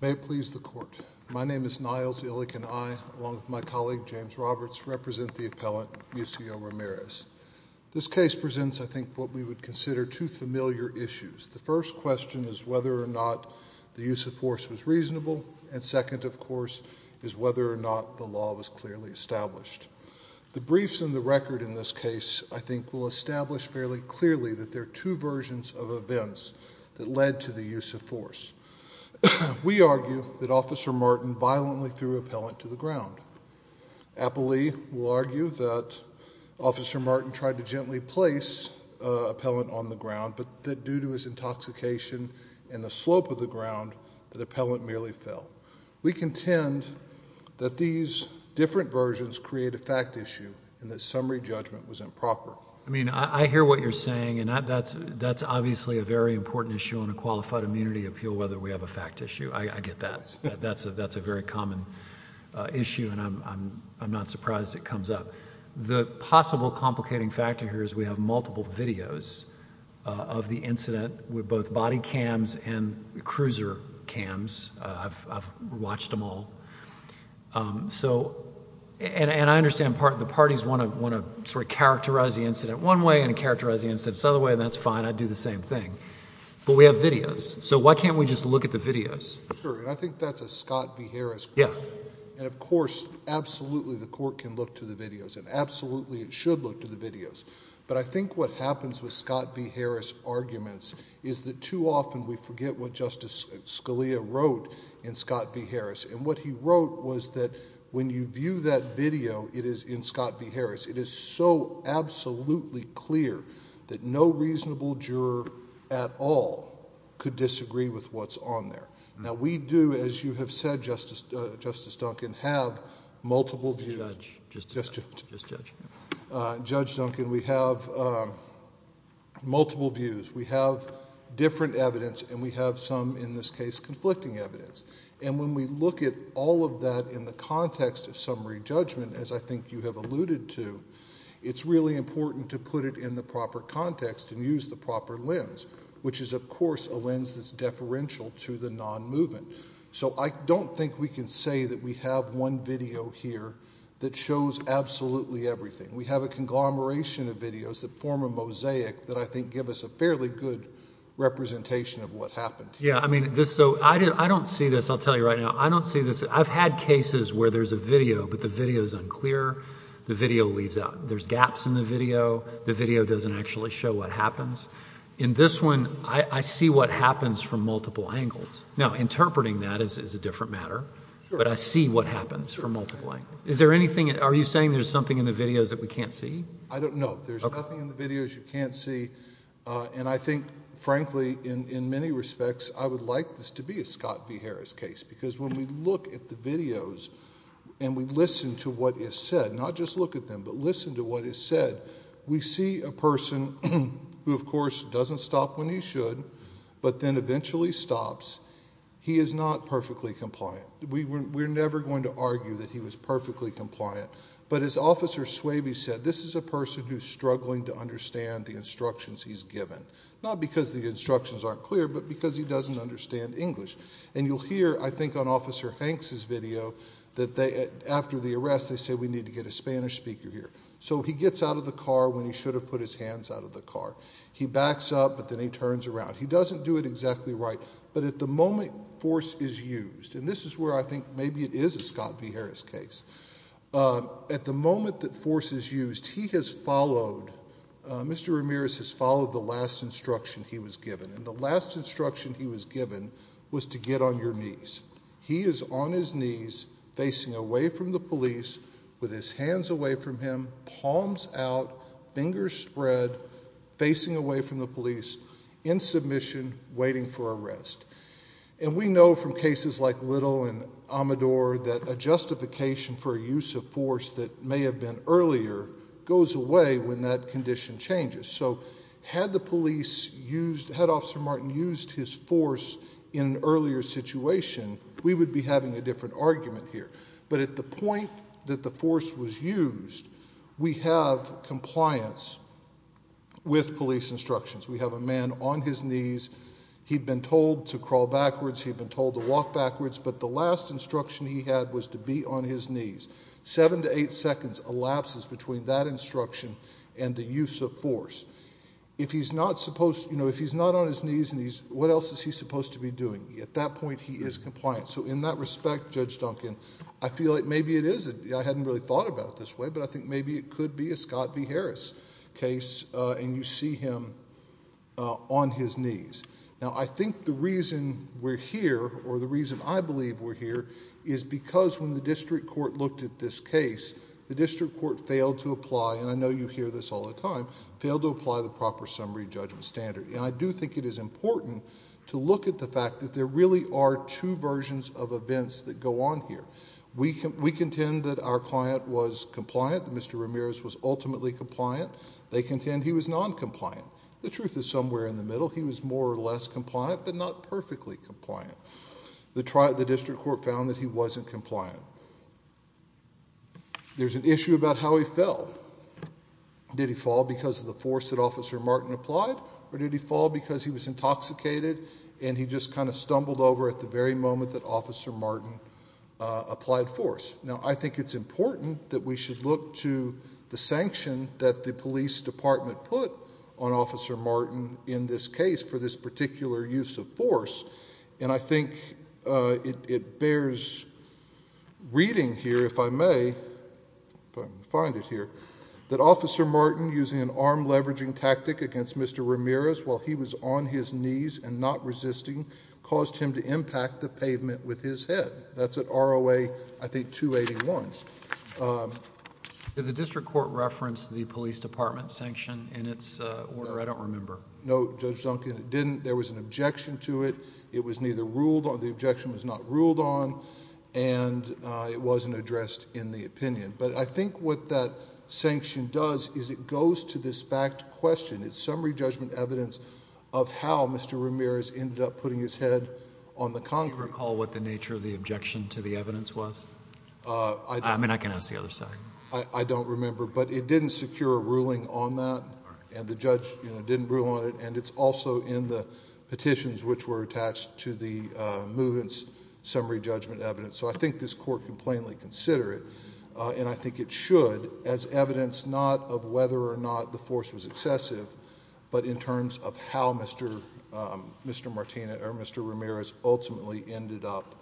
May it please the Court, my name is Niles Illick and I, along with my colleague James Roberts, represent the appellant Muccio Ramirez. This case presents, I think, what we would consider two familiar issues. The first question is whether or not the use of force was reasonable, and second, of course, is whether or not the law was clearly established. The briefs and the record in this case, I think, will establish fairly clearly that there are two versions of events that led to the use of force. We argue that Officer Martin violently threw appellant to the ground. Appellee will argue that Officer Martin tried to gently place appellant on the ground, but that due to his intoxication and the slope of the ground, the appellant merely fell. We contend that these different versions create a fact issue, and that summary judgment was improper. I mean, I hear what you're saying, and that's obviously a very important issue on a qualified immunity appeal, whether we have a fact issue. I get that. That's a very common issue, and I'm not surprised it comes up. The possible complicating factor here is we have multiple videos of the incident with both body cams and cruiser cams. I've watched them all. So, and I understand the parties want to sort of characterize the incident one way and characterize the incident the other way, and that's fine, I'd do the same thing. But we have videos, so why can't we just look at the videos? Sure, and I think that's a Scott B. Harris question. Yeah. And of course, absolutely the court can look to the videos, and absolutely it should look to the videos. But I think what happens with Scott B. Harris arguments is that too often we forget what Justice Scalia wrote in Scott B. Harris, and what he wrote was that when you view that video, it is in Scott B. Harris, it is so absolutely clear that no reasonable juror at all could disagree with what's on there. Now we do, as you have said, Justice Duncan, have multiple views. Just the judge. Just the judge. Just judge. Judge Duncan, we have multiple views. We have different evidence, and we have some, in this case, conflicting evidence. And when we look at all of that in the context of summary judgment, as I think you have alluded to, it's really important to put it in the proper context and use the proper lens, which is, of course, a lens that's deferential to the non-movement. So I don't think we can say that we have one video here that shows absolutely everything. We have a conglomeration of videos that form a mosaic that I think give us a fairly good representation of what happened. Yeah, I mean, so I don't see this. I'll tell you right now. I don't see this. I've had cases where there's a video, but the video is unclear. The video leaves out. There's gaps in the video. The video doesn't actually show what happens. In this one, I see what happens from multiple angles. Now, interpreting that is a different matter, but I see what happens from multiple angles. Is there anything, are you saying there's something in the videos that we can't see? I don't know. There's nothing in the videos you can't see, and I think, frankly, in many respects, I would like this to be a Scott v. Harris case, because when we look at the videos and we listen to what is said, not just look at them, but listen to what is said, we see a person who, of course, doesn't stop when he should, but then eventually stops. He is not perfectly compliant. We're never going to argue that he was perfectly compliant, but as Officer Swaby said, this is a person who's struggling to understand the instructions he's given, not because the instructions aren't clear, but because he doesn't understand English. And you'll hear, I think, on Officer Hanks's video that after the arrest, they say we need to get a Spanish speaker here. So he gets out of the car when he should have put his hands out of the car. He backs up, but then he turns around. He doesn't do it exactly right, but at the moment force is used, and this is where I think maybe it is a Scott v. Harris case. At the moment that force is used, he has followed, Mr. Ramirez has followed the last instruction he was given, and the last instruction he was given was to get on your knees. He is on his knees, facing away from the police with his hands away from him, palms out, fingers spread, facing away from the police, in submission, waiting for arrest. And we know from cases like Little and Amador that a justification for a use of force that may have been earlier goes away when that condition changes. So had the police used, had Officer Martin used his force in an earlier situation, we would be having a different argument here. But at the point that the force was used, we have compliance with police instructions. We have a man on his knees. He'd been told to crawl backwards. He'd been told to walk backwards, but the last instruction he had was to be on his knees. Seven to eight seconds elapses between that instruction and the use of force. If he's not supposed, you know, if he's not on his knees, what else is he supposed to be doing? At that point, he is compliant. So in that respect, Judge Duncan, I feel like maybe it is, I hadn't really thought about it this way, but I think maybe it could be a Scott v. Harris case, and you see him on his knees. Now, I think the reason we're here, or the reason I believe we're here, is because when the district court looked at this case, the district court failed to apply, and I know you hear this all the time, failed to apply the proper summary judgment standard. And I do think it is important to look at the fact that there really are two versions of events that go on here. We contend that our client was compliant, that Mr. Ramirez was ultimately compliant. They contend he was non-compliant. The truth is somewhere in the middle. He was more or less compliant, but not perfectly compliant. The district court found that he wasn't compliant. There's an issue about how he fell. Did he fall because of the force that Officer Martin applied, or did he fall because he was intoxicated and he just kind of stumbled over at the very moment that Officer Martin applied force? Now, I think it's important that we should look to the sanction that the police department put on Officer Martin in this case for this particular use of force, and I think it bears reading here, if I may, if I can find it here, that Officer Martin, using an arm-leveraging tactic against Mr. Ramirez while he was on his knees and not resisting, caused him to impact the pavement with his head. That's at ROA, I think, 281. Did the district court reference the police department sanction in its order? I don't remember. No, Judge Duncan, it didn't. There was an objection to it. It was neither ruled on, the objection was not ruled on, and it wasn't addressed in the opinion. But I think what that sanction does is it goes to this fact question. It's summary judgment evidence of how Mr. Ramirez ended up putting his head on the concrete. Do you recall what the nature of the objection to the evidence was? I don't. I mean, I can ask the other side. I don't remember, but it didn't secure a ruling on that, and the judge didn't rule on it, and it's also in the petitions which were attached to the movements summary judgment evidence. So I think this court can plainly consider it, and I think it should, as evidence not of whether or not the force was excessive, but in terms of how Mr. Martinez or Mr. Ramirez ultimately ended up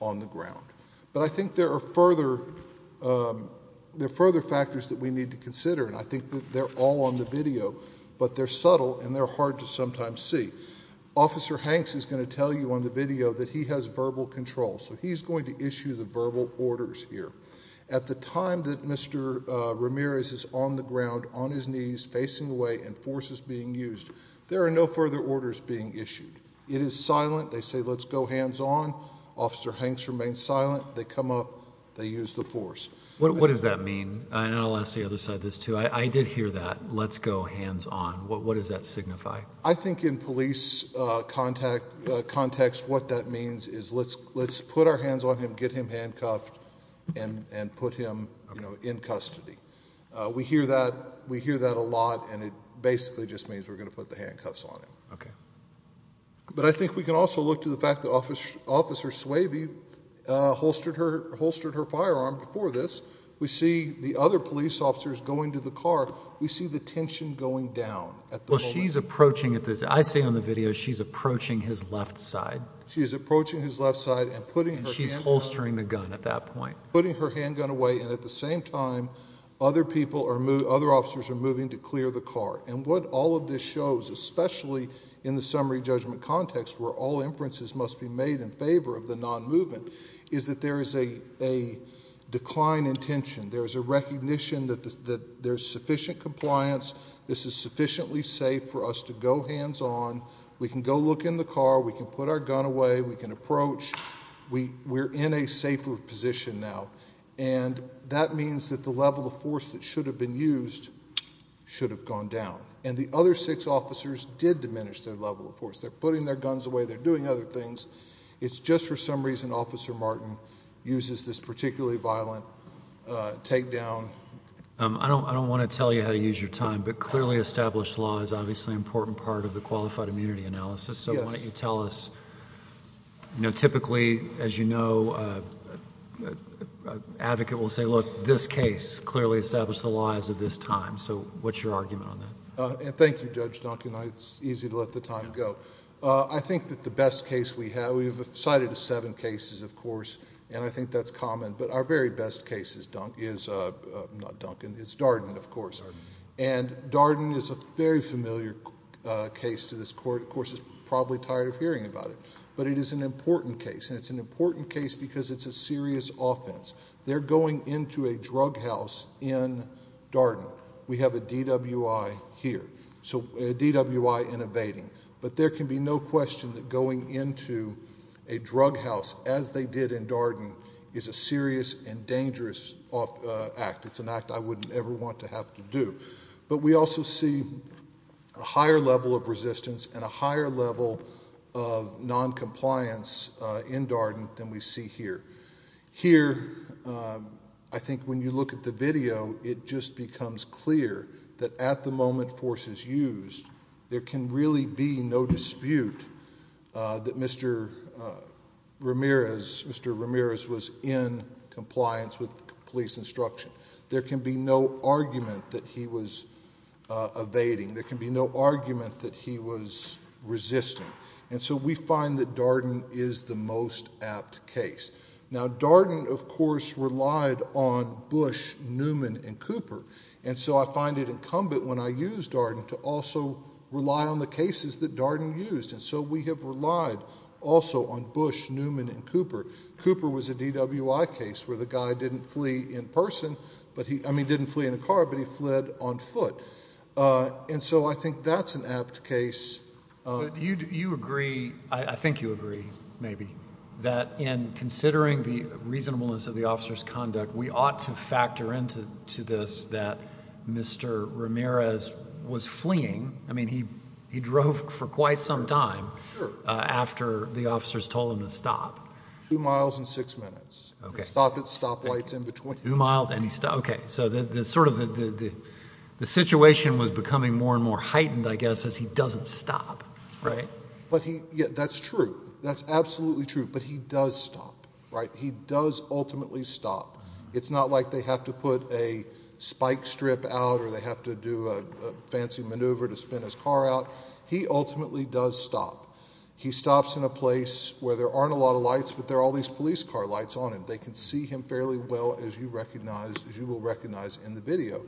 on the ground. But I think there are further factors that we need to consider, and I think that they're all on the video, but they're subtle and they're hard to sometimes see. Officer Hanks is going to tell you on the video that he has verbal control, so he's going to issue the verbal orders here. At the time that Mr. Ramirez is on the ground, on his knees, facing away, and force is being used, there are no further orders being issued. It is silent. They say, let's go hands on. Officer Hanks remains silent. They come up. They use the force. What does that mean? And I'll ask the other side this, too. I did hear that, let's go hands on. What does that signify? I think in police context, what that means is let's put our hands on him, get him handcuffed, and put him in custody. We hear that a lot, and it basically just means we're going to put the handcuffs on him. But I think we can also look to the fact that Officer Swaby holstered her firearm before this. We see the other police officers going to the car. We see the tension going down at the moment. I say on the video, she's approaching his left side. She's approaching his left side and putting her handgun away. She's holstering the gun at that point. Putting her handgun away, and at the same time, other officers are moving to clear the car. And what all of this shows, especially in the summary judgment context, where all inferences must be made in favor of the non-movement, is that there is a decline in tension. There's a recognition that there's sufficient compliance. This is sufficiently safe for us to go hands on. We can go look in the car. We can put our gun away. We can approach. We're in a safer position now. And that means that the level of force that should have been used should have gone down. And the other six officers did diminish their level of force. They're putting their guns away. They're doing other things. It's just for some reason Officer Martin uses this particularly violent takedown. I don't want to tell you how to use your time, but clearly established law is obviously an important part of the qualified immunity analysis. So why don't you tell us, typically, as you know, an advocate will say, look, this case clearly established the laws of this time. So what's your argument on that? Thank you, Judge Duncan. It's easy to let the time go. I think that the best case we have, we've cited seven cases, of course. And I think that's common. But our very best case is Darden, of course. And Darden is a very familiar case to this court. Of course, it's probably tired of hearing about it. But it is an important case. And it's an important case because it's a serious offense. They're going into a drug house in Darden. We have a DWI here. So a DWI in evading. But there can be no question that going into a drug house as they did in Darden is a serious and dangerous act. It's an act I wouldn't ever want to have to do. But we also see a higher level of resistance and a higher level of noncompliance in Darden than we see here. Here, I think when you look at the video, it just becomes clear that at the moment force is used, there can really be no dispute that Mr. Ramirez was in compliance with police instruction. There can be no argument that he was evading. There can be no argument that he was resisting. And so we find that Darden is the most apt case. Now, Darden, of course, relied on Bush, Newman, and Cooper. And so I find it incumbent when I use Darden to also rely on the cases that Darden used. And so we have relied also on Bush, Newman, and Cooper. Cooper was a DWI case where the guy didn't flee in person, I mean didn't flee in a car, but he fled on foot. And so I think that's an apt case. But you agree, I think you agree, maybe, that in considering the reasonableness of the officer's conduct, we ought to factor into this that Mr. Ramirez was fleeing. I mean, he drove for quite some time after the officers told him to stop. Two miles and six minutes. Okay. Stopped at stoplights in between. Two miles and he stopped, okay. So the sort of the situation was becoming more and more heightened, I guess, as he doesn't stop, right? But he, yeah, that's true. That's absolutely true. But he does stop, right? He does ultimately stop. It's not like they have to put a spike strip out or they have to do a fancy maneuver to spin his car out. He ultimately does stop. He stops in a place where there aren't a lot of lights, but there are all these police car lights on him. They can see him fairly well, as you recognize, as you will recognize in the video.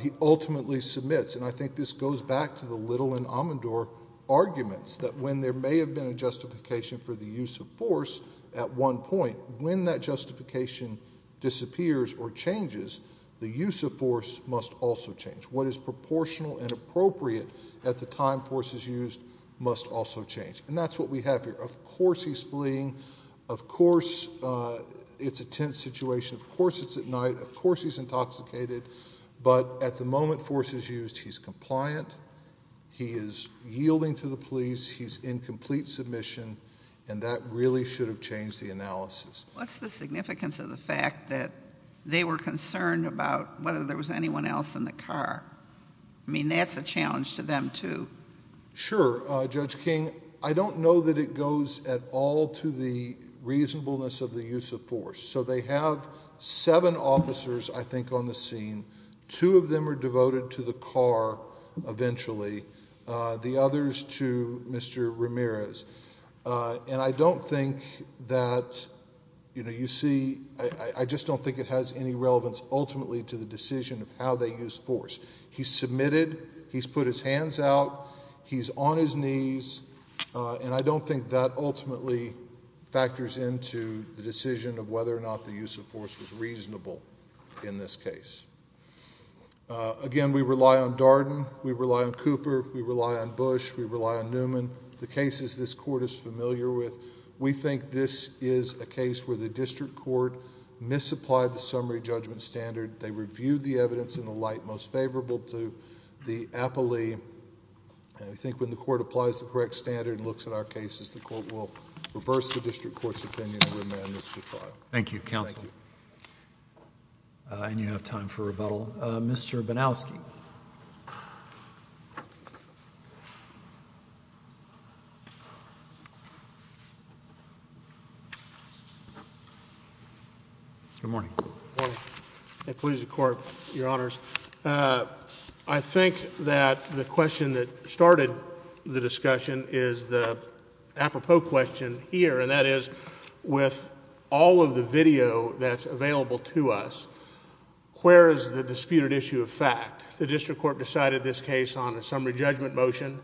He ultimately submits, and I think this goes back to the Little and Amandor arguments, that when there may have been a justification for the use of force at one point, when that justification disappears or changes, the use of force must also change. What is proportional and appropriate at the time force is used must also change. And that's what we have here. Of course he's fleeing. Of course it's a tense situation. Of course it's at night. Of course he's intoxicated. But at the moment force is used, he's compliant. He is yielding to the police. He's in complete submission, and that really should have changed the analysis. What's the significance of the fact that they were concerned about whether there was anyone else in the car? I mean, that's a challenge to them too. Sure, Judge King. I don't know that it goes at all to the reasonableness of the use of force. So they have seven officers, I think, on the scene. Two of them are devoted to the car eventually. The others to Mr. Ramirez. And I don't think that, you know, you see, I just don't think it has any relevance ultimately to the decision of how they use force. He's submitted. He's put his hands out. He's on his knees, and I don't think that ultimately factors into the decision of whether or not the use of force was reasonable in this case. Again, we rely on Darden. We rely on Cooper. We rely on Bush. We rely on Newman. The cases this court is familiar with, we think this is a case where the district court misapplied the summary judgment standard. They reviewed the evidence in the light most favorable to the appellee, and I think when the court applies the correct standard and looks at our cases, the court will reverse the district court's opinion and remand this to trial. Thank you, counsel. And you have time for rebuttal. Mr. Banowski. Good morning. Good morning. I please the court, your honors. I think that the question that started the discussion is the apropos question here, and that is with all of the video that's available to us, where is the disputed issue of fact? The district court decided this case on a summary judgment motion,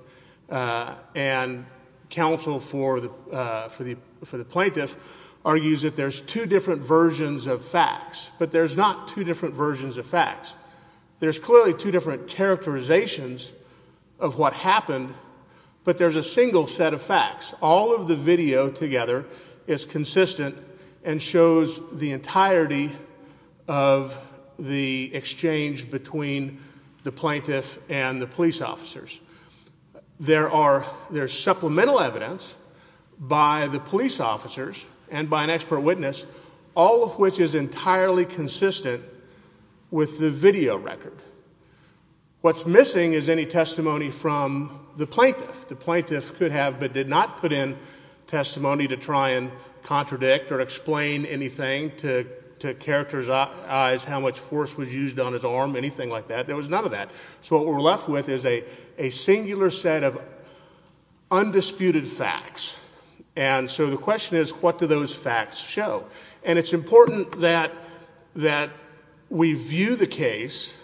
and counsel for the plaintiff argues that there's two different versions of facts, but there's not two different versions of facts. There's clearly two different characterizations of what happened, but there's a single set of facts. All of the video together is consistent and shows the entirety of the exchange between the plaintiff and the police officers. There's supplemental evidence by the police officers and by an expert witness, all of which is entirely consistent with the video record. What's missing is any testimony from the plaintiff. The plaintiff could have but did not put in testimony to try and contradict or explain anything to characterize how much force was used on his arm, anything like that. There was none of that. So what we're left with is a singular set of undisputed facts. And so the question is, what do those facts show? And it's important that we view the case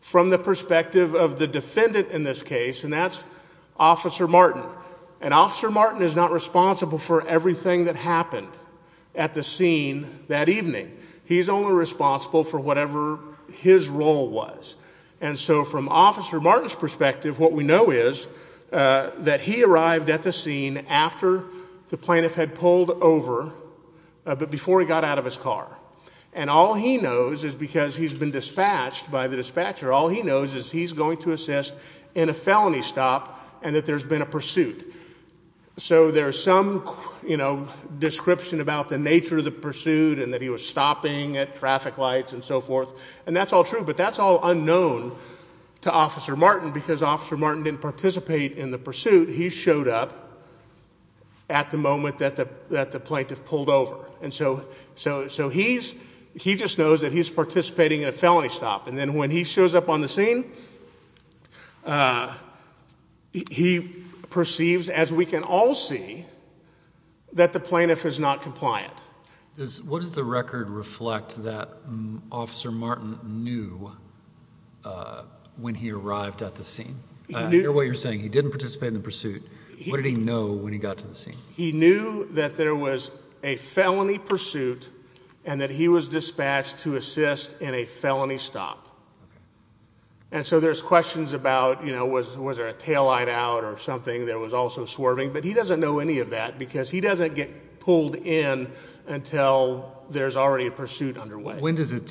from the perspective of the defendant in this case, and that's Officer Martin. And Officer Martin is not responsible for everything that happened at the scene that evening. He's only responsible for whatever his role was. And so from Officer Martin's perspective, what we know is that he arrived at the scene after the plaintiff had pulled over, but before he got out of his car. And all he knows is because he's been dispatched by the dispatcher, all he knows is he's going to assist in a felony stop and that there's been a pursuit. So there's some description about the nature of the pursuit and that he was stopping at traffic lights and so forth. And that's all true. But that's all unknown to Officer Martin because Officer Martin didn't participate in the pursuit. He showed up at the moment that the plaintiff pulled over. And so he just knows that he's participating in a felony stop. And then when he shows up on the scene, he perceives, as we can all see, that the plaintiff is not compliant. What does the record reflect that Officer Martin knew when he arrived at the scene? I hear what you're saying. He didn't participate in the pursuit. What did he know when he got to the scene? He knew that there was a felony pursuit and that he was dispatched to assist in a felony stop. And so there's questions about was there a taillight out or something that was also swerving. But he doesn't know any of that because he doesn't get pulled in until there's already a pursuit underway. When does it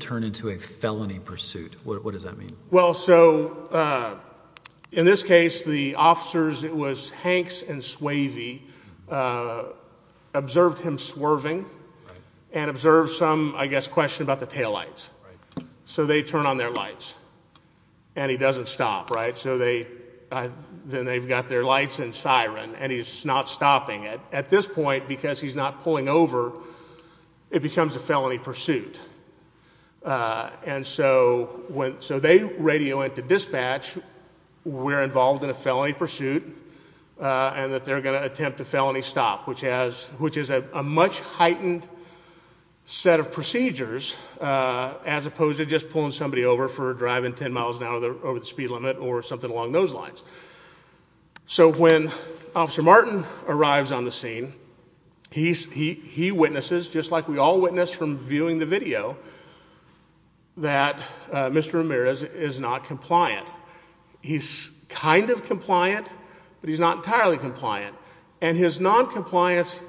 turn into a felony pursuit? What does that mean? Well, so in this case, the officers, it was Hanks and Swavey, observed him swerving and observed some, I guess, question about the taillights. So they turn on their lights. And he doesn't stop, right? So then they've got their lights and siren. And he's not stopping it. At this point, because he's not pulling over, it becomes a felony pursuit. And so they radio into dispatch, we're involved in a felony pursuit, and that they're going to attempt a felony stop, which is a much heightened set of procedures, as opposed to just pulling somebody over for driving 10 miles an hour over the speed limit or something along those lines. So when Officer Martin arrives on the scene, he witnesses, just like we all witnessed from viewing the video, that Mr. Ramirez is not compliant. He's kind of compliant, but he's not entirely compliant. And his noncompliance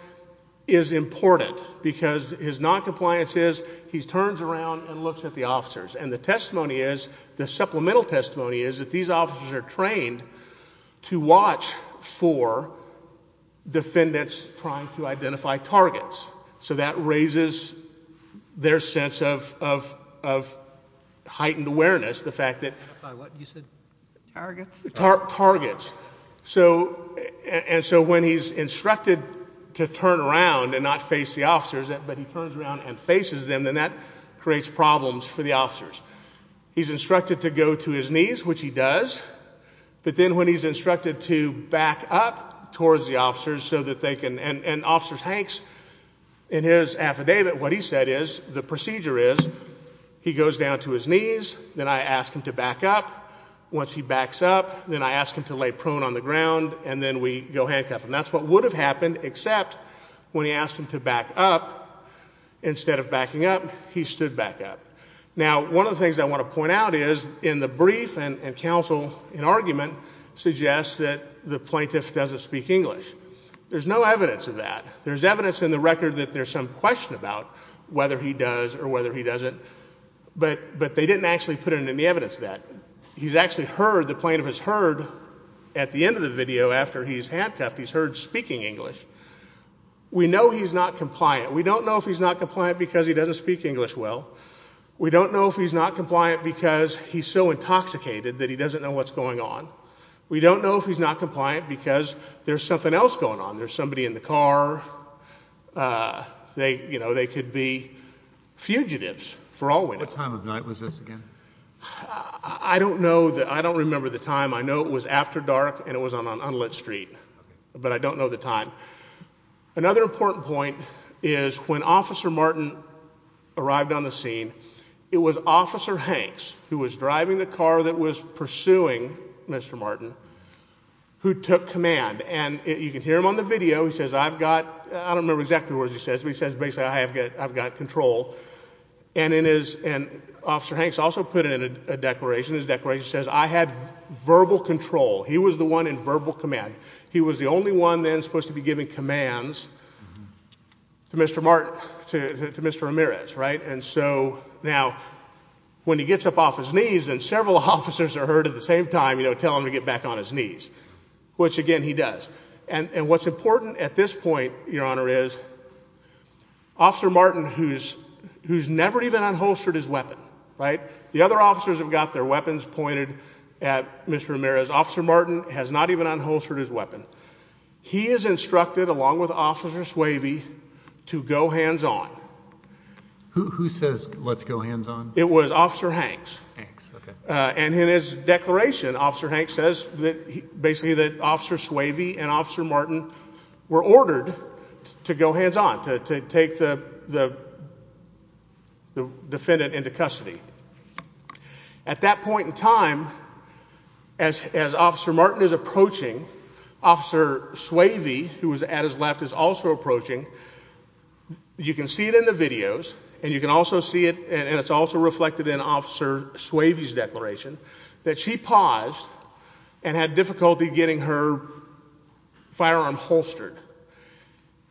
is important because his noncompliance is he turns around and looks at the officers. And the testimony is, the supplemental testimony is that these officers are trained to watch for defendants trying to identify targets. So that raises their sense of heightened awareness, the fact that targets. And so when he's instructed to turn around and not face the officers, but he turns around and faces them, then that creates problems for the officers. He's instructed to go to his knees, which he does. But then when he's instructed to back up towards the officers so that they can, and Officer Hanks, in his affidavit, what he said is, the procedure is, he goes down to his knees, then I ask him to back up. Once he backs up, then I ask him to lay prone on the ground, and then we go handcuff him. That's what would have happened, except when he asked him to back up, instead of backing up, he stood back up. Now, one of the things I want to point out is, in the brief and counsel, an argument suggests that the plaintiff doesn't speak English. There's no evidence of that. There's evidence in the record that there's some question about whether he does or whether he doesn't. But they didn't actually put in any evidence of that. He's actually heard, the plaintiff has heard, at the end of the video, after he's handcuffed, he's heard speaking English. We know he's not compliant. We don't know if he's not compliant because he We don't know if he's not compliant because he's so intoxicated that he doesn't know what's going on. We don't know if he's not compliant because there's something else going on. There's somebody in the car. They could be fugitives, for all we know. What time of night was this again? I don't know. I don't remember the time. I know it was after dark, and it was on an unlit street. But I don't know the time. Another important point is, when Officer Martin arrived on the scene, it was Officer Hanks, who was driving the car that was pursuing Mr. Martin, who took command. And you can hear him on the video. He says, I've got, I don't remember exactly what he says, but he says, basically, I've got control. And Officer Hanks also put in a declaration. His declaration says, I have verbal control. He was the one in verbal command. He was the only one then supposed to be giving commands to Mr. Martin, to Mr. Ramirez, right? Now, when he gets up off his knees, then several officers are heard at the same time telling him to get back on his knees, which, again, he does. And what's important at this point, Your Honor, is Officer Martin, who's never even unholstered his weapon, right? The other officers have got their weapons pointed at Mr. Ramirez. Officer Martin has not even unholstered his weapon. He is instructed, along with Officer Swavey, to go hands-on. Who says, let's go hands-on? It was Officer Hanks. And in his declaration, Officer Hanks says that, basically, that Officer Swavey and Officer Martin were ordered to go hands-on, to take the defendant into custody. At that point in time, as Officer Martin is approaching, Officer Swavey, who was at his left, is also approaching. You can see it in the videos. And you can also see it, and it's also reflected in Officer Swavey's declaration, that she paused and had difficulty getting her firearm holstered.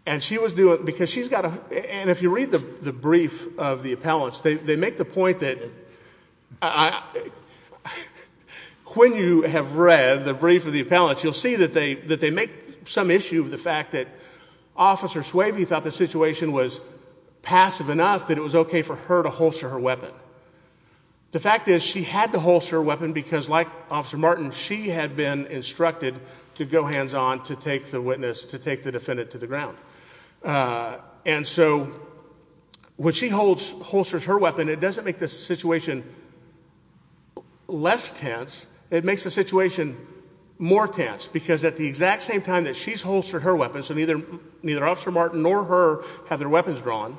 And she was doing it because she's got a, and if you read the brief of the appellants, they make the point that, when you have read the brief of the appellants, you'll see that they make some issue with the fact that Officer Swavey thought the situation was passive enough that it was OK for her to holster her weapon. The fact is, she had to holster her weapon because, like Officer Martin, she had been instructed to go hands-on, to take the witness, to take the defendant to the ground. And so, when she holsters her weapon, it doesn't make the situation less tense. It makes the situation more tense, because at the exact same time that she's holstered her weapon, so neither Officer Martin nor her have their weapons drawn,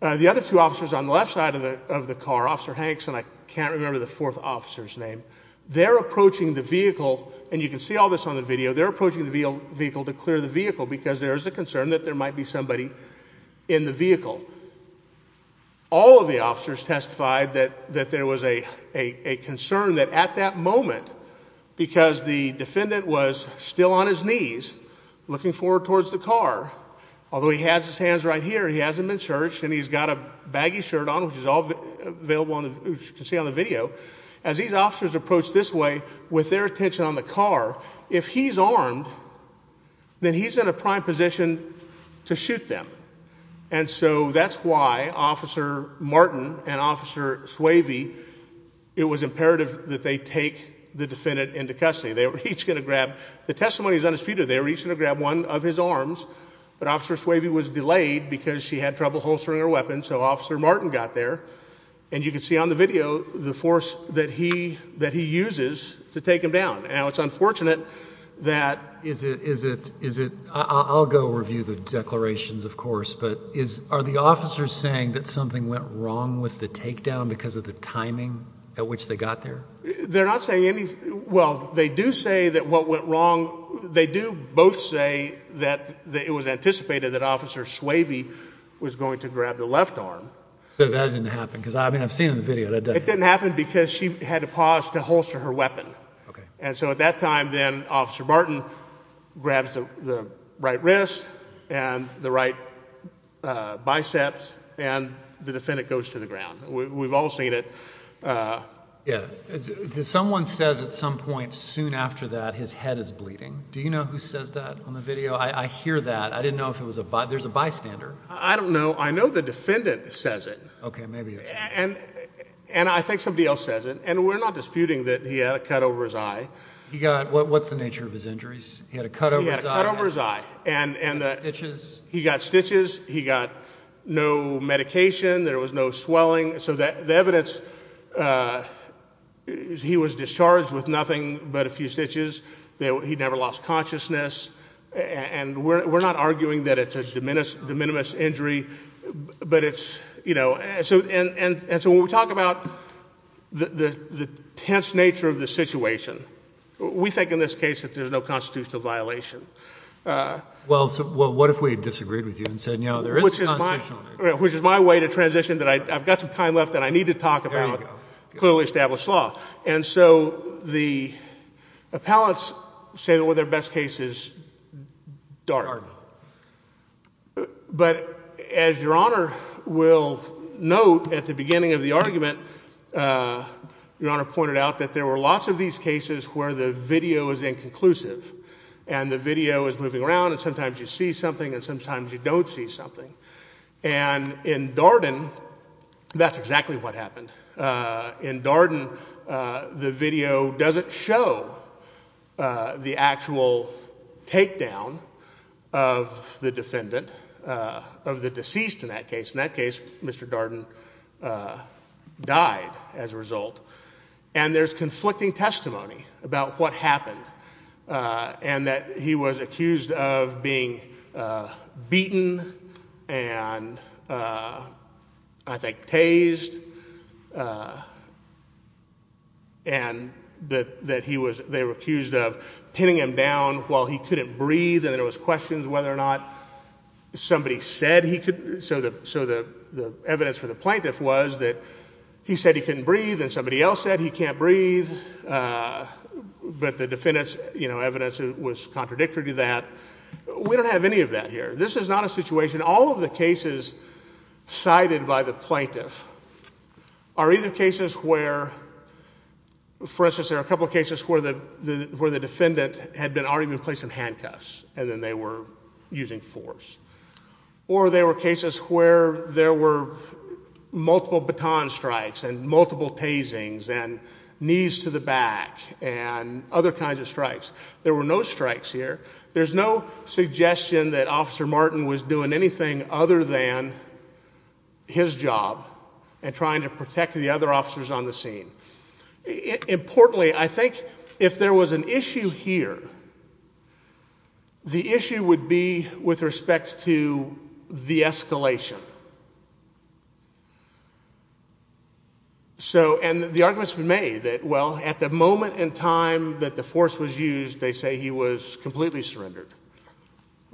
the other two officers on the left side of the car, Officer Hanks, and I can't remember the fourth officer's name, they're approaching the vehicle. And you can see all this on the video. They're approaching the vehicle to clear the vehicle because there is a concern that there might be somebody in the vehicle. All of the officers testified that there was a concern that, at that moment, because the defendant was still on his knees, looking forward towards the car, although he has his hands right here, he hasn't been searched, and he's got a baggy shirt on, which is all available on the video. As these officers approach this way, with their attention on the car, if he's armed, then he's in a prime position to shoot them. And so that's why Officer Martin and Officer Swayve, it was imperative that they take the defendant into custody. They were each going to grab, the testimony's undisputed, they were each going to grab one of his arms. But Officer Swayve was delayed because she had trouble holstering her weapon, so Officer Martin got there. And you can see on the video the force that he uses to take him down. Now, it's unfortunate that. Is it, is it, is it, I'll go review the declarations, of course, but are the officers saying that something went wrong with the takedown because of the timing at which they got there? They're not saying anything, well, they do say that what went wrong, they do both say that it was anticipated that Officer Swayve was going to grab the left arm. So that didn't happen, because I mean, I've seen the video, that doesn't. It didn't happen because she had to pause to holster her weapon. And so at that time, then, Officer Martin grabs the right wrist and the right bicep, and the defendant goes to the ground. We've all seen it. Yeah, someone says at some point soon after that, his head is bleeding. Do you know who says that on the video? I hear that. I didn't know if it was a, there's a bystander. I don't know. I know the defendant says it. OK, maybe it's him. And I think somebody else says it. And we're not disputing that he had a cut over his eye. He got, what's the nature of his injuries? He had a cut over his eye. He had a cut over his eye. And the stitches. He got stitches. He got no medication. There was no swelling. So the evidence, he was discharged with nothing but a few stitches. He never lost consciousness. And we're not arguing that it's a de minimis injury, but it's, you know, and so when we talk about the tense nature of the situation, we think in this case that there's no constitutional violation. Well, what if we disagreed with you and said, no, there is a constitutional violation? Which is my way to transition that I've got some time left and I need to talk about clearly established law. And so the appellants say that their best case is Darden. Darden. But as Your Honor will note at the beginning of the argument, Your Honor pointed out that there were lots of these cases where the video is inconclusive. And the video is moving around, and sometimes you see something and sometimes you don't see something. And in Darden, that's exactly what happened. In Darden, the video doesn't show the actual takedown of the defendant, of the deceased in that case. In that case, Mr. Darden died as a result. And there's conflicting testimony about what happened and that he was accused of being beaten and, I think, tased. And that they were accused of pinning him down while he couldn't breathe. And there was questions whether or not somebody said he could. So the evidence for the plaintiff was that he said he couldn't breathe and somebody else said he can't breathe. But the defendant's evidence was contradictory to that. We don't have any of that here. This is not a situation. All of the cases cited by the plaintiff are either cases where, for instance, there are a couple of cases where the defendant had already been placed in handcuffs and then they were using force. Or there were cases where there were multiple baton strikes and multiple tasings and knees to the back and other kinds of strikes. There were no strikes here. There's no suggestion that Officer Martin was doing anything other than his job and trying to protect the other officers on the scene. Importantly, I think if there was an issue here, the issue would be with respect to the escalation. And the argument's been made that, well, at the moment in time that the force was used, they say he was completely surrendered.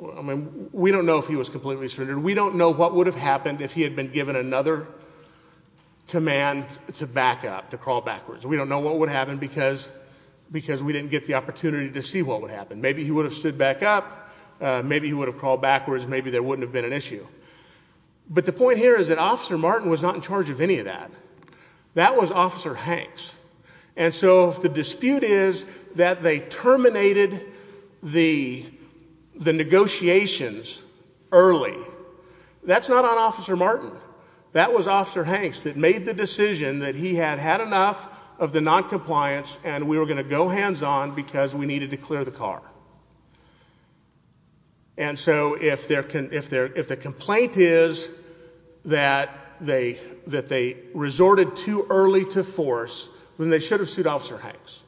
I mean, we don't know if he was completely surrendered. We don't know what would have happened if he had been given another command to back up, to crawl backwards. We don't know what would happen because we didn't get the opportunity to see what would happen. Maybe he would have stood back up. Maybe he would have crawled backwards. Maybe there wouldn't have been an issue. But the point here is that Officer Martin was not in charge of any of that. That was Officer Hanks. And so if the dispute is that they terminated the negotiations early, that's not on Officer Martin. That was Officer Hanks that made the decision that he had had enough of the noncompliance and we were going to go hands-on because we needed to clear the car. And so if the complaint is that they resorted too early to force, then they should have sued Officer Hanks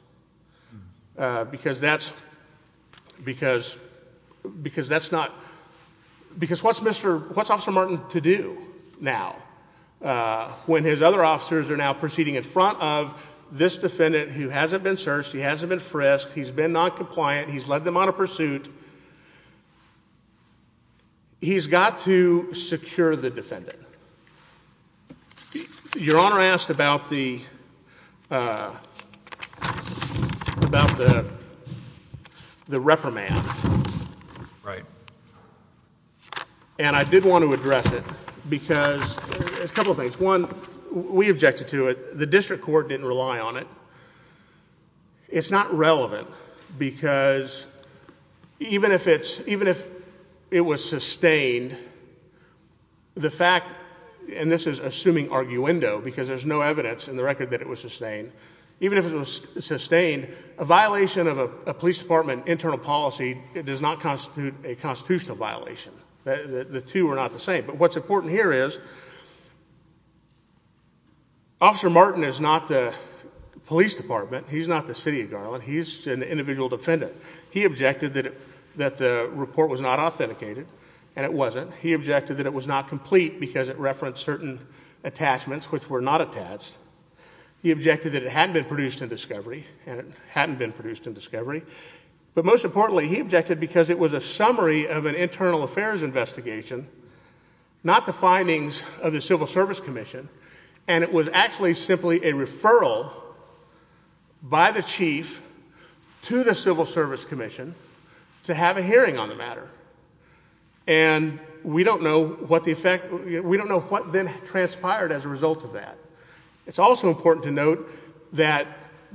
because that's not, because what's Officer Martin to do now when his other officers are now proceeding in front of this defendant who hasn't been searched, he hasn't been frisked, he's been noncompliant, he's left out of the negotiations, had them on a pursuit, he's got to secure the defendant. Your Honor asked about the reprimand. And I did want to address it because a couple of things. One, we objected to it. The district court didn't rely on it. It's not relevant because even if it was sustained, the fact, and this is assuming arguendo because there's no evidence in the record that it was sustained, even if it was sustained, a violation of a police department internal policy does not constitute a constitutional violation. The two are not the same. But what's important here is Officer Martin is not the police department, he's not the city of Garland, he's an individual defendant. He objected that the report was not authenticated, and it wasn't. He objected that it was not complete because it referenced certain attachments which were not attached. He objected that it hadn't been produced in discovery, and it hadn't been produced in discovery. But most importantly, he objected because it was a summary of an internal affairs investigation, not the findings of the Civil Service Commission, and it was actually simply a referral by the chief to the Civil Service Commission to have a hearing on the matter. And we don't know what then transpired as a result of that. It's also important to note that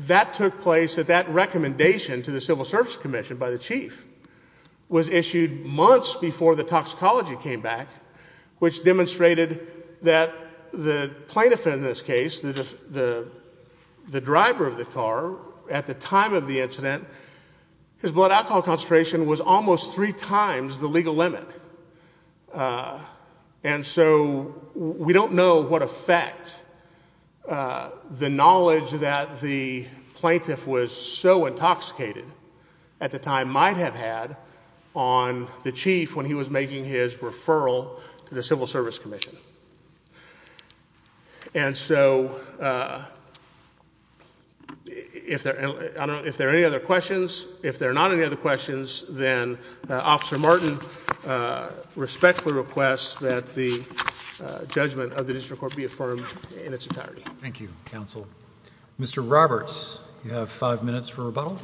that took place, that that recommendation to the Civil Service Commission by the chief was issued months before the toxicology came back, which demonstrated that the plaintiff in this case, the driver of the car, at the time of the incident, his blood alcohol concentration was almost three times the legal limit. And so we don't know what effect the knowledge that the plaintiff was so intoxicated at the time might have had on the chief when he was making his referral to the Civil Service Commission. And so if there are any other questions, if there are not any other questions, then Officer Martin respectfully requests that the judgment of the district court be affirmed in its entirety. Thank you, counsel. Mr. Roberts, you have five minutes for rebuttal.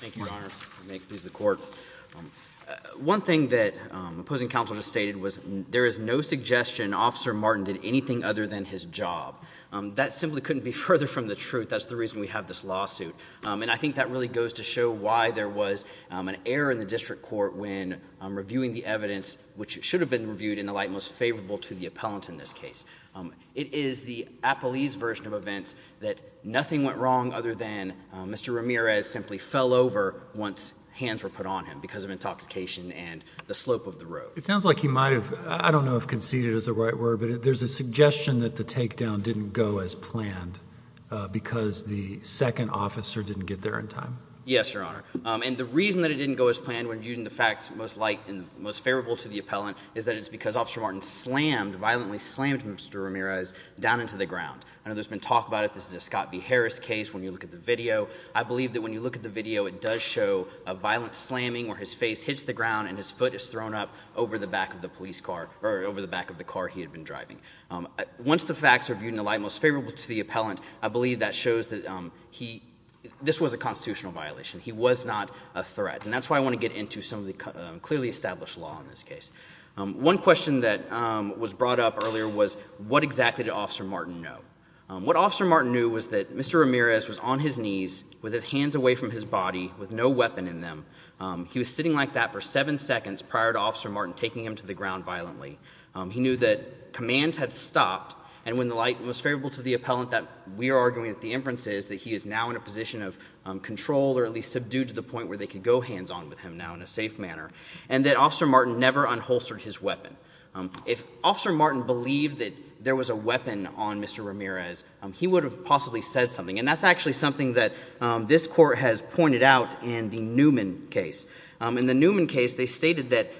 Thank you, Your Honors. May it please the court. One thing that opposing counsel just stated was there is no suggestion Officer Martin did anything other than his job. That simply couldn't be further from the truth. That's the reason we have this lawsuit. And I think that really goes to show why there was an error in the district court when reviewing the evidence, which should have been reviewed in the light most favorable to the appellant in this case. It is the appellee's version of events that nothing went wrong other than Mr. Ramirez simply fell over once hands were put on him because of intoxication and the slope of the road. It sounds like he might have, I don't know if conceded is the right word, but there's a suggestion that the takedown didn't go as planned because the second officer didn't get there in time. Yes, Your Honor. And the reason that it didn't go as planned when viewing the facts most light and most favorable to the appellant is that it's because Officer Martin violently slammed Mr. Ramirez down into the ground. I know there's been talk about it. This is a Scott B. Harris case. When you look at the video, I believe that when you look at the video, it does show a violent slamming where his face hits the ground and his foot is thrown up over the back of the police car or over the back of the car he had been driving. Once the facts are viewed in the light most favorable to the appellant, I believe that shows that this was a constitutional violation. He was not a threat. And that's why I want to get into some of the clearly established law in this case. One question that was brought up earlier was, what exactly did Officer Martin know? What Officer Martin knew was that Mr. Ramirez was on his knees with his hands away from his body with no weapon in them. He was sitting like that for seven seconds prior to Officer Martin taking him to the ground violently. He knew that commands had stopped. And when the light most favorable to the appellant that we are arguing that the inference is that he is now in a position of control or at least subdued to the point where they could go hands on with him now in a safe manner. And that Officer Martin never unholstered his weapon. If Officer Martin believed that there was a weapon on Mr. Ramirez, he would have possibly said something. And that's actually something that this court has pointed out in the Newman case. In the Newman case, they stated that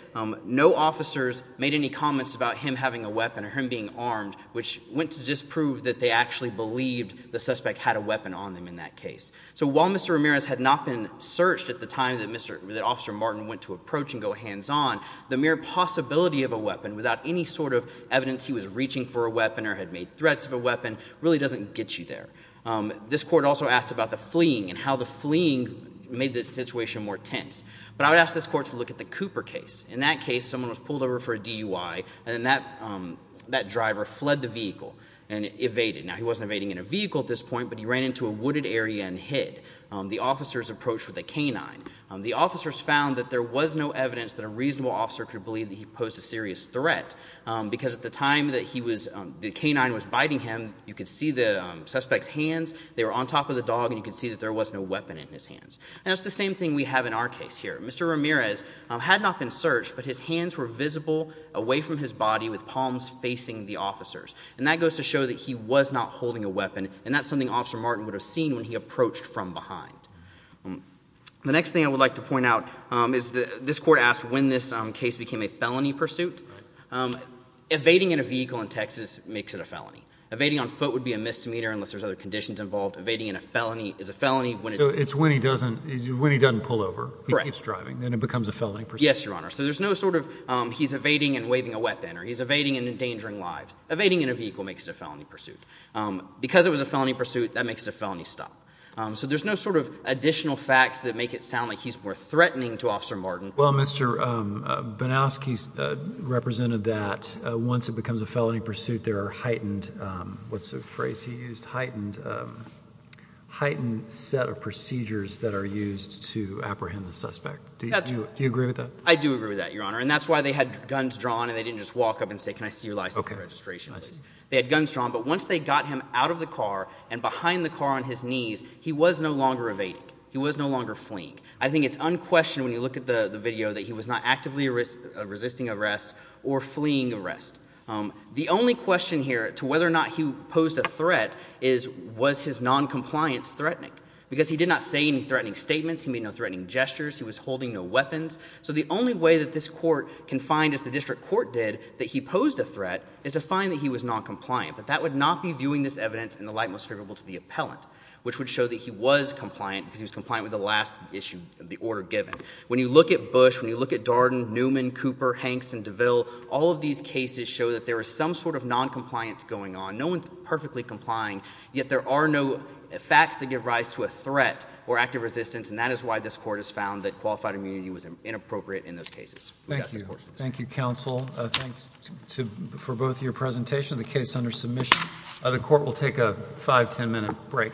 no officers made any comments about him having a weapon or him being armed, which went to disprove that they actually believed the suspect had a weapon on him in that case. So while Mr. Ramirez had not been searched at the time that Officer Martin went to approach and go hands on, the mere possibility of a weapon without any sort of evidence he was reaching for a weapon or had made threats of a weapon really doesn't get you there. This court also asked about the fleeing and how the fleeing made the situation more tense. But I would ask this court to look at the Cooper case. In that case, someone was pulled over for a DUI. And then that driver fled the vehicle and evaded. Now, he wasn't evading in a vehicle at this point, but he ran into a wooded area and hid. The officers approached with a canine. The officers found that there was no evidence that a reasonable officer could believe that he posed a serious threat, because at the time that the canine was biting him, you could see the suspect's hands. They were on top of the dog, and you could see that there was no weapon in his hands. And it's the same thing we have in our case here. Mr. Ramirez had not been searched, but his hands were visible away from his body with palms facing the officers. And that goes to show that he was not holding a weapon. And that's something Officer Martin would have seen when he approached from behind. The next thing I would like to point out is that this court asked when this case became a felony pursuit. Evading in a vehicle in Texas makes it a felony. Evading on foot would be a misdemeanor, unless there's other conditions involved. Evading in a felony is a felony when it's in a vehicle. So it's when he doesn't pull over, he keeps driving, then it becomes a felony pursuit. Yes, Your Honor. So there's no sort of, he's evading and waving a weapon, or he's evading and endangering lives. Evading in a vehicle makes it a felony pursuit. Because it was a felony pursuit, that makes it a felony stop. So there's no sort of additional facts that make it sound like he's more threatening to Officer Martin. Well, Mr. Banowski represented that once it becomes a felony pursuit, there are heightened, what's the phrase he used? Heightened set of procedures that are used to apprehend the suspect. Do you agree with that? I do agree with that, Your Honor. And that's why they had guns drawn, and they didn't just walk up and say, can I see your license and registration, please? They had guns drawn. But once they got him out of the car and behind the car on his knees, he was no longer evading. He was no longer fleeing. I think it's unquestioned when you look at the video that he was not actively resisting arrest or fleeing arrest. The only question here to whether or not he posed a threat is, was his noncompliance threatening? Because he did not say any threatening statements. He made no threatening gestures. He was holding no weapons. So the only way that this court can find, as the district court did, that he posed a threat is to find that he was noncompliant. But that would not be viewing this evidence in the light most favorable to the appellant, which would show that he was compliant, because he was compliant with the last issue of the order given. When you look at Bush, when you look at Darden, Newman, Cooper, Hanks, and DeVille, all of these cases show that there is some sort of noncompliance going on. No one's perfectly complying. Yet there are no facts that give rise to a threat or active resistance. And that is why this court has found that qualified immunity was inappropriate in those cases. Thank you. Thank you, counsel. Thanks for both your presentation of the case under submission. The court will take a 5, 10 minute break.